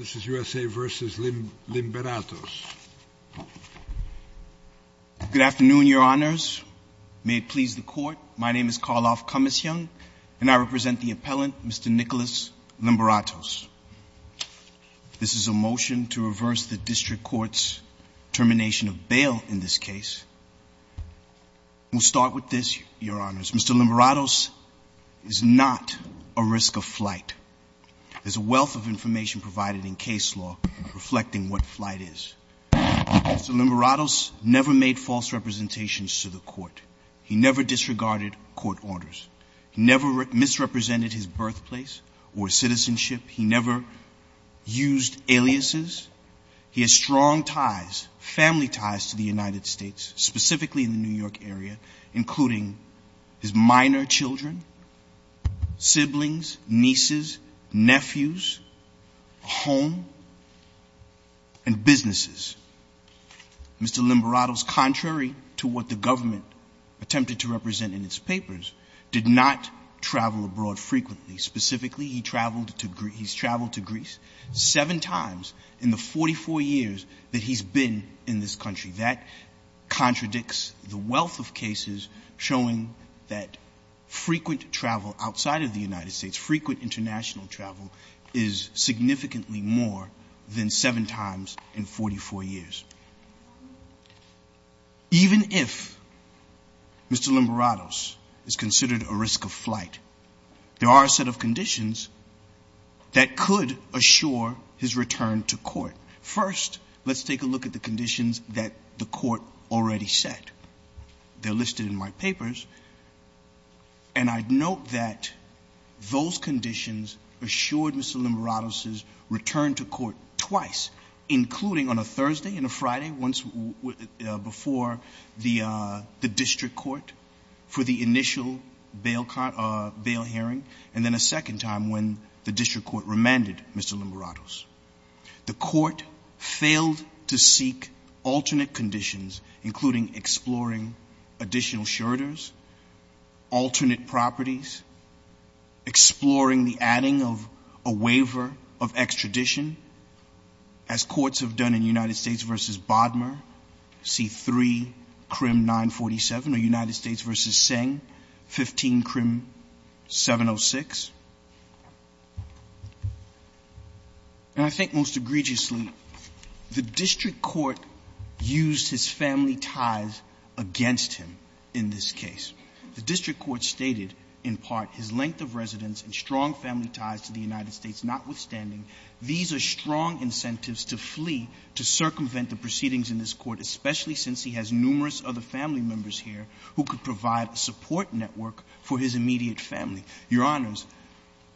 This is USA v. Limberatos Good afternoon, Your Honors. May it please the Court, my name is Karloff Cummings-Young and I represent the appellant Mr. Nicholas Limberatos. This is a motion to reverse the District Court's termination of bail in this case. We'll start with this, Your Honors, Mr. Limberatos is not a risk of flight. There's a wealth of information provided in case law reflecting what flight is. Mr. Limberatos never made false representations to the Court. He never disregarded Court orders. He never misrepresented his birthplace or citizenship. He never used aliases. He has strong ties, family ties, to the United States, specifically in the New York area, including his minor children, siblings, nieces, nephews, home, and businesses. Mr. Limberatos, contrary to what the government attempted to represent in its papers, did not travel abroad frequently. Specifically, he's traveled to Greece seven times in the 44 years that he's been in this country. That contradicts the wealth of cases showing that frequent travel outside of the United States, frequent international travel, is significantly more than seven times in 44 years. Even if Mr. Limberatos is considered a risk of flight, there are a set of conditions that the Court already set. They're listed in my papers, and I'd note that those conditions assured Mr. Limberatos' return to court twice, including on a Thursday and a Friday before the district court for the initial bail hearing, and then a second time when the district court remanded Mr. Limberatos. The Court failed to seek alternate conditions, including exploring additional shirters, alternate properties, exploring the adding of a waiver of extradition, as courts have done in United States v. Bodmer, C3, CRIM 947, or United States v. Seng, 15 CRIM 706. And I think most egregiously, the district court used his family ties against him in this case. The district court stated, in part, his length of residence and strong family ties to the United States, notwithstanding, these are strong incentives to flee, to circumvent the proceedings in this Court, especially since he has numerous other family members here who could provide a support network for his immediate family. Your Honors,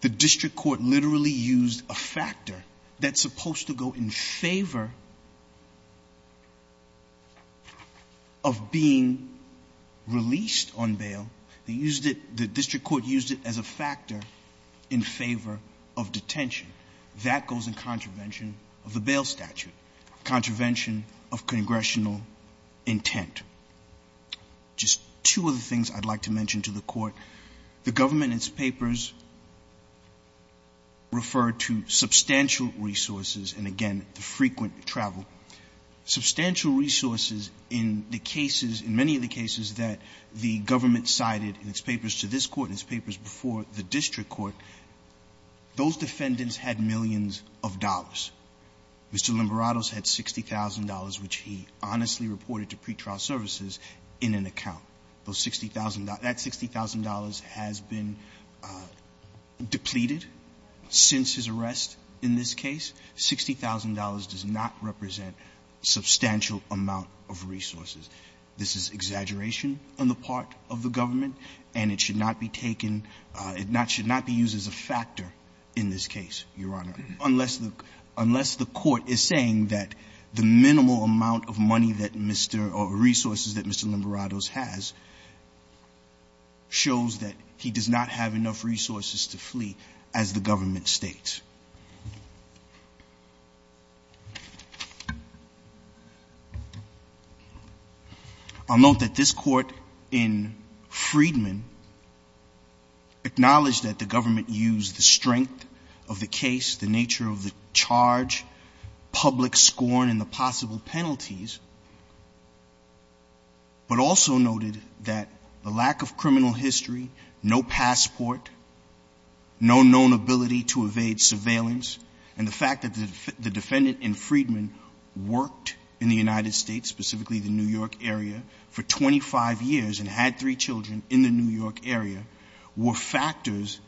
the district court literally used a factor that's supposed to go in favor of being released on bail. They used it, the district court used it as a factor in favor of detention. That goes in contravention of the bail statute, contravention of congressional intent. Just two other things I'd like to mention to the Court. The government in its papers referred to substantial resources, and again, the frequent travel. Substantial resources in the cases, in many of the cases that the government cited in its papers to this Court and its papers before the district court, those defendants had millions of dollars. Mr. Limberato's had $60,000, which he honestly reported to pretrial services in an account. Those $60,000, that $60,000 has been depleted since his arrest in this case. $60,000 does not represent a substantial amount of resources. This is exaggeration on the part of the government, and it should not be taken, it should not be used as a factor in this case, Your Honor, unless the Court is saying that the minimal amount of money that Mr., or resources that Mr. Limberato's has, shows that he does not have enough resources to flee, as the government states. I'll note that this Court in Freedman acknowledged that the government used the strength of the case, the nature of the charge, public scorn, and the public concern, and the fact that the defendant in Freedman worked in the United States, specifically the New York area, for 25 years, and had three children in the New York area, were factors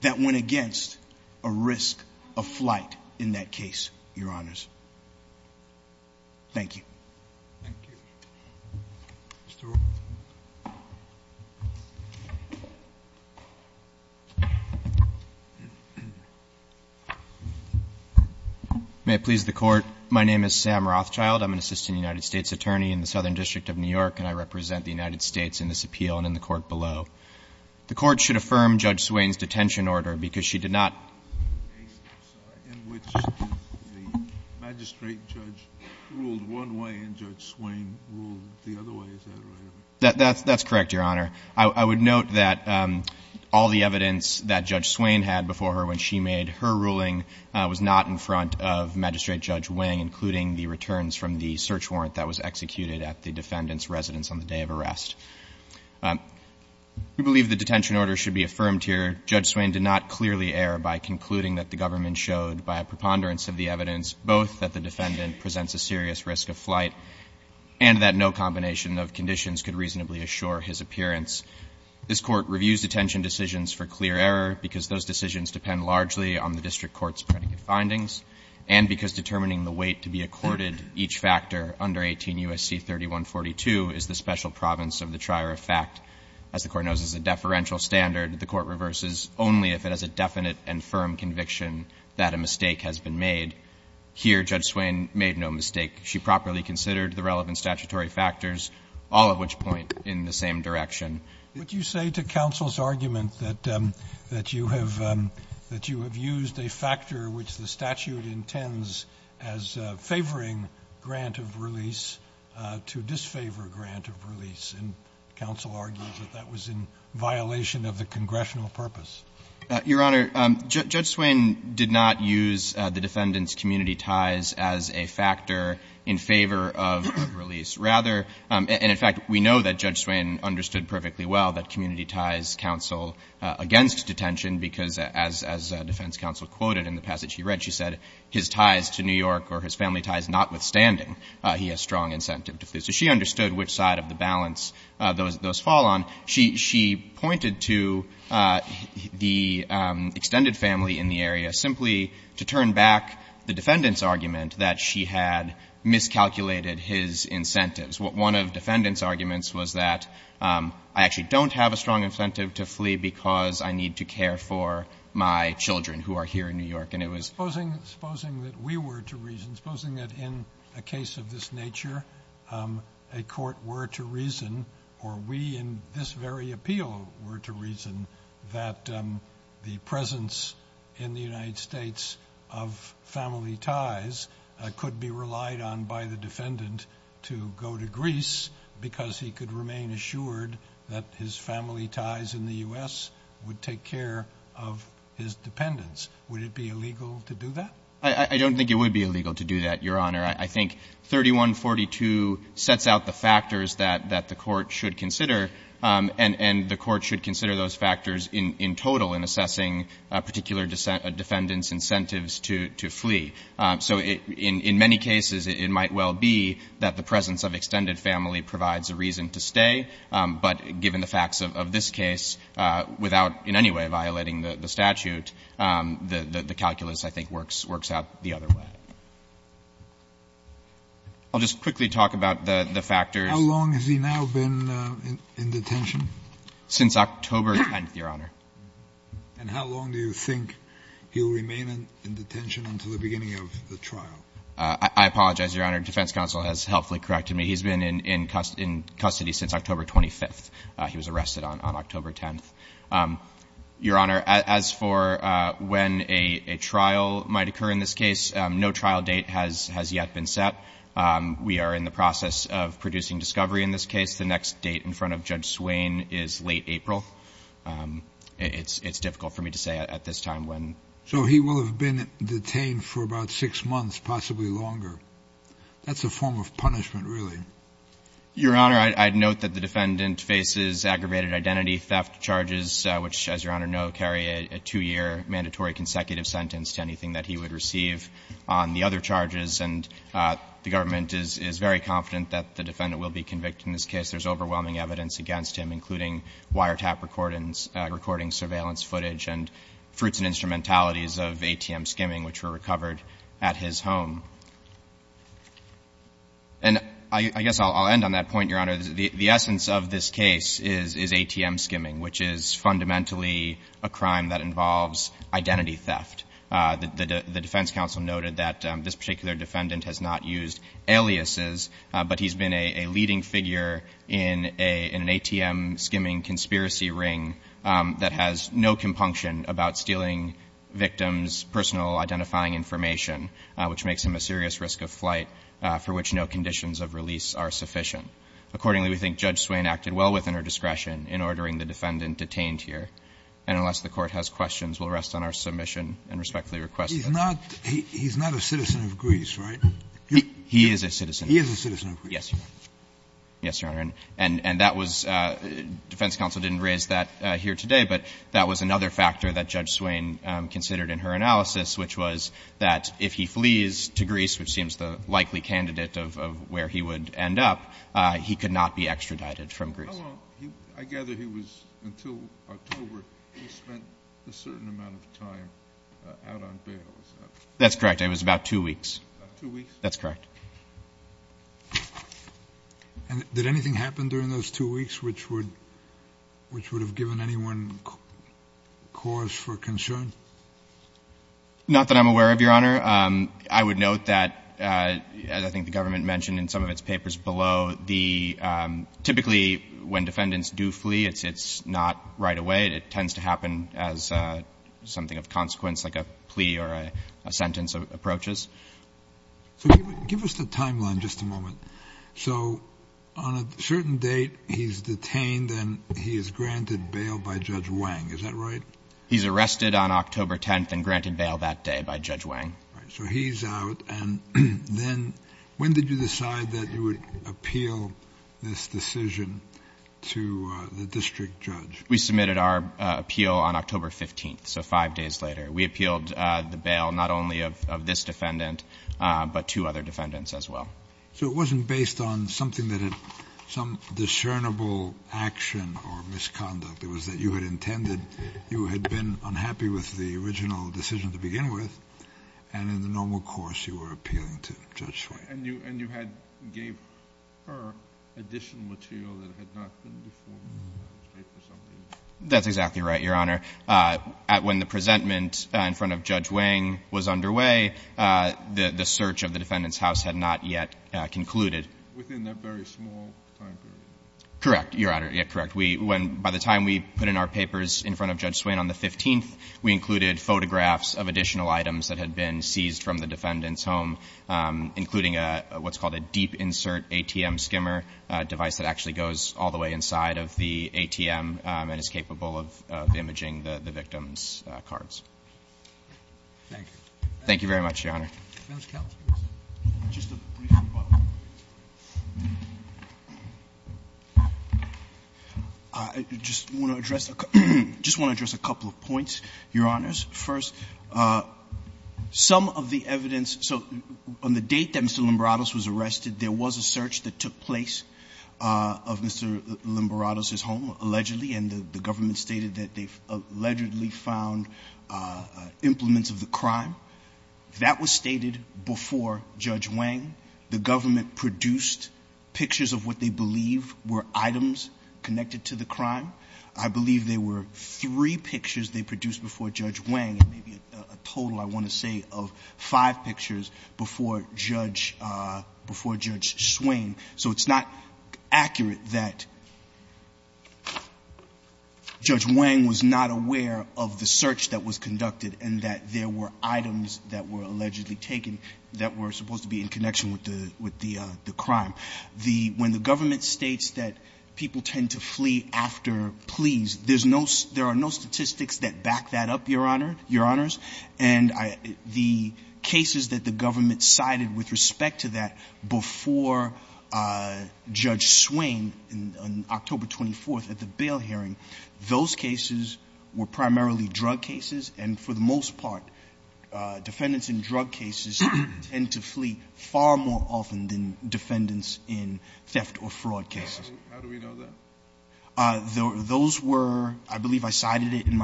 that went against a risk of flight in that case, Your Honors. Thank you. May it please the Court, my name is Sam Rothschild, I'm an assistant United States attorney in the Southern District of New York, and I represent the United States in this appeal and in the court below. The Court should affirm Judge Swain's detention order, because she did not. Judge Swain ruled one way, and Judge Swain ruled the other way, is that right? That's correct, Your Honor. I would note that all the evidence that Judge Swain had before her when she made her ruling was not in front of Magistrate Judge Wang, including the returns from the search warrant that was executed at the defendant's residence on the day of arrest. We believe the detention order should be affirmed here. Judge Swain did not clearly err by concluding that the government showed, by a preponderance of the evidence, both that the defendant presents a serious risk of flight, and that no combination of conditions could reasonably assure his appearance. This Court reviews detention decisions for clear error, because those decisions depend largely on the district court's predicate findings, and because determining the weight to be accorded each factor under 18 U.S.C. 3142 is the special province of the trier of fact. As the Court knows as a deferential standard, the Court reverses only if it has a definite and firm conviction that a mistake has been made. Here, Judge Swain made no mistake. She properly considered the relevant statutory factors, all of which point in the same direction. Would you say to counsel's argument that you have used a factor which the statute intends as favoring grant of release to disfavor grant of release? And counsel argues that that was in violation of the congressional purpose. Your Honor, Judge Swain did not use the defendant's community ties as a factor in favor of release. Rather, and in fact, we know that Judge Swain understood perfectly well that community ties counsel against detention, because as defense counsel quoted in the passage he read, she said, his ties to New York or his family ties notwithstanding, he has strong incentive to flee. So she understood which side of the balance those fall on. She pointed to the extended family in the area simply to turn back the defendant's argument that she had miscalculated his incentives. One of the defendant's arguments was that I actually don't have a strong incentive to flee because I need to care for my children who are here in New York. And it was... I don't think that a court were to reason or we in this very appeal were to reason that the presence in the United States of family ties could be relied on by the defendant to go to Greece because he could remain assured that his family ties in the U.S. would take care of his dependents. Would it be illegal to do that? So the statute sets out the factors that the court should consider and the court should consider those factors in total in assessing particular defendant's incentives to flee. So in many cases it might well be that the presence of extended family provides a reason to stay, but given the facts of this case, without in any way violating the statute, the calculus I think works out the other way. I'll just quickly talk about the factors. How long has he now been in detention? Since October 10th, Your Honor. And how long do you think he'll remain in detention until the beginning of the trial? I apologize, Your Honor. The defense counsel has helpfully corrected me. He's been in custody since October 25th. He was arrested on October 10th. Your Honor, as for when a trial might occur in this case, no trial date has yet been set. We are in the process of producing discovery in this case. The next date in front of Judge Swain is late April. It's difficult for me to say at this time when. So he will have been detained for about six months, possibly longer. That's a form of punishment, really. Your Honor, I note that the defendant faces aggravated identity theft charges, which, as Your Honor know, carry a two-year mandatory consecutive sentence to anything that he would receive on the other charges. And the government is very confident that the defendant will be convicted in this case. There's overwhelming evidence against him, including wiretap recordings, recording surveillance footage, and fruits and instrumentalities of ATM skimming, which were recovered at his home. And I guess I'll end on that point, Your Honor. The essence of this case is ATM skimming, which is fundamentally a crime that involves identity theft. The defense counsel noted that this particular defendant has not used aliases, but he's been a leading figure in an ATM skimming conspiracy ring that has no compunction about stealing victims' personal identifying information, which makes him a potential suspect. And the defense counsel noted that the defendant has not used aliases, but he's been a leading figure in an ATM skimming conspiracy ring that has no compunction about stealing victims' personal identifying information, which makes him a potential suspect. He is not a citizen of Greece, right? He is a citizen. He is a citizen of Greece. Yes, Your Honor. Yes, Your Honor. And that was ‑‑ defense counsel didn't raise that here today, but that was another factor that Judge Swain considered in her analysis, which was that if he flees to Greece, which seems the likely candidate of where he would end up, he could not be extradited from Greece. How long ‑‑ I gather he was ‑‑ until October, he spent a certain amount of time out on bail, is that right? That's correct. It was about two weeks. Two weeks? That's correct. And did anything happen during those two weeks which would have given anyone cause for concern? Not that I'm aware of, Your Honor. I would note that, as I think the government mentioned in some of its papers below, the ‑‑ typically when defendants do flee, it's not right away. It tends to happen as something of consequence, like a plea or a sentence approaches. So give us the timeline just a moment. So on a certain date, he's detained and he is granted bail by Judge Wang, is that right? That's correct. He was detained on October 10th and granted bail that day by Judge Wang. So he's out, and then when did you decide that you would appeal this decision to the district judge? We submitted our appeal on October 15th, so five days later. We appealed the bail not only of this defendant, but two other defendants as well. So you were appealing the original decision to begin with, and in the normal course, you were appealing to Judge Swain. And you had ‑‑ gave her additional material that had not been before? That's exactly right, Your Honor. When the presentment in front of Judge Wang was underway, the search of the defendant's house had not yet concluded. Within that very small time period? Correct, Your Honor, correct. By the time we put in our papers in front of Judge Swain on the 15th, we included photographs of additional items that had been seized from the defendant's home, including what's called a deep insert ATM skimmer device that actually goes all the way inside of the ATM and is capable of imaging the victim's cards. Thank you. Thank you very much, Your Honor. Just a brief rebuttal. I just want to address a couple of points, Your Honors. First, some of the evidence ‑‑ so on the date that Mr. Limberatos was arrested, there was a search that took place of Mr. Limberatos' home, allegedly, and the government stated that they allegedly found implements of the crime. That was stated before Judge Wang. The government produced pictures of what they believe were items connected to the crime. I believe there were three pictures they produced before Judge Wang, maybe a total, I want to say, of five pictures before Judge Swain. So it's not accurate that Judge Wang was not aware of the search that was conducted and that there were items that were allegedly taken that were supposed to be in connection with the crime. When the government states that people tend to flee after pleas, there are no statistics that back that up, Your Honors. And the cases that the government cited with respect to that before Judge Swain on October 24th at the bail hearing, those cases were primarily drug cases. And for the most part, defendants in drug cases tend to flee far more often than defendants in theft or fraud cases. How do we know that? Those were, I believe I cited it in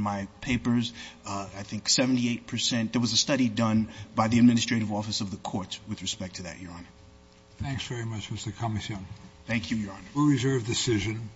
my papers, I think 78 percent. There was a study done by the administrative office of the courts with respect to that, Your Honor. Thanks very much, Mr. Comision. Thank you, Your Honor. Rule reserve decision.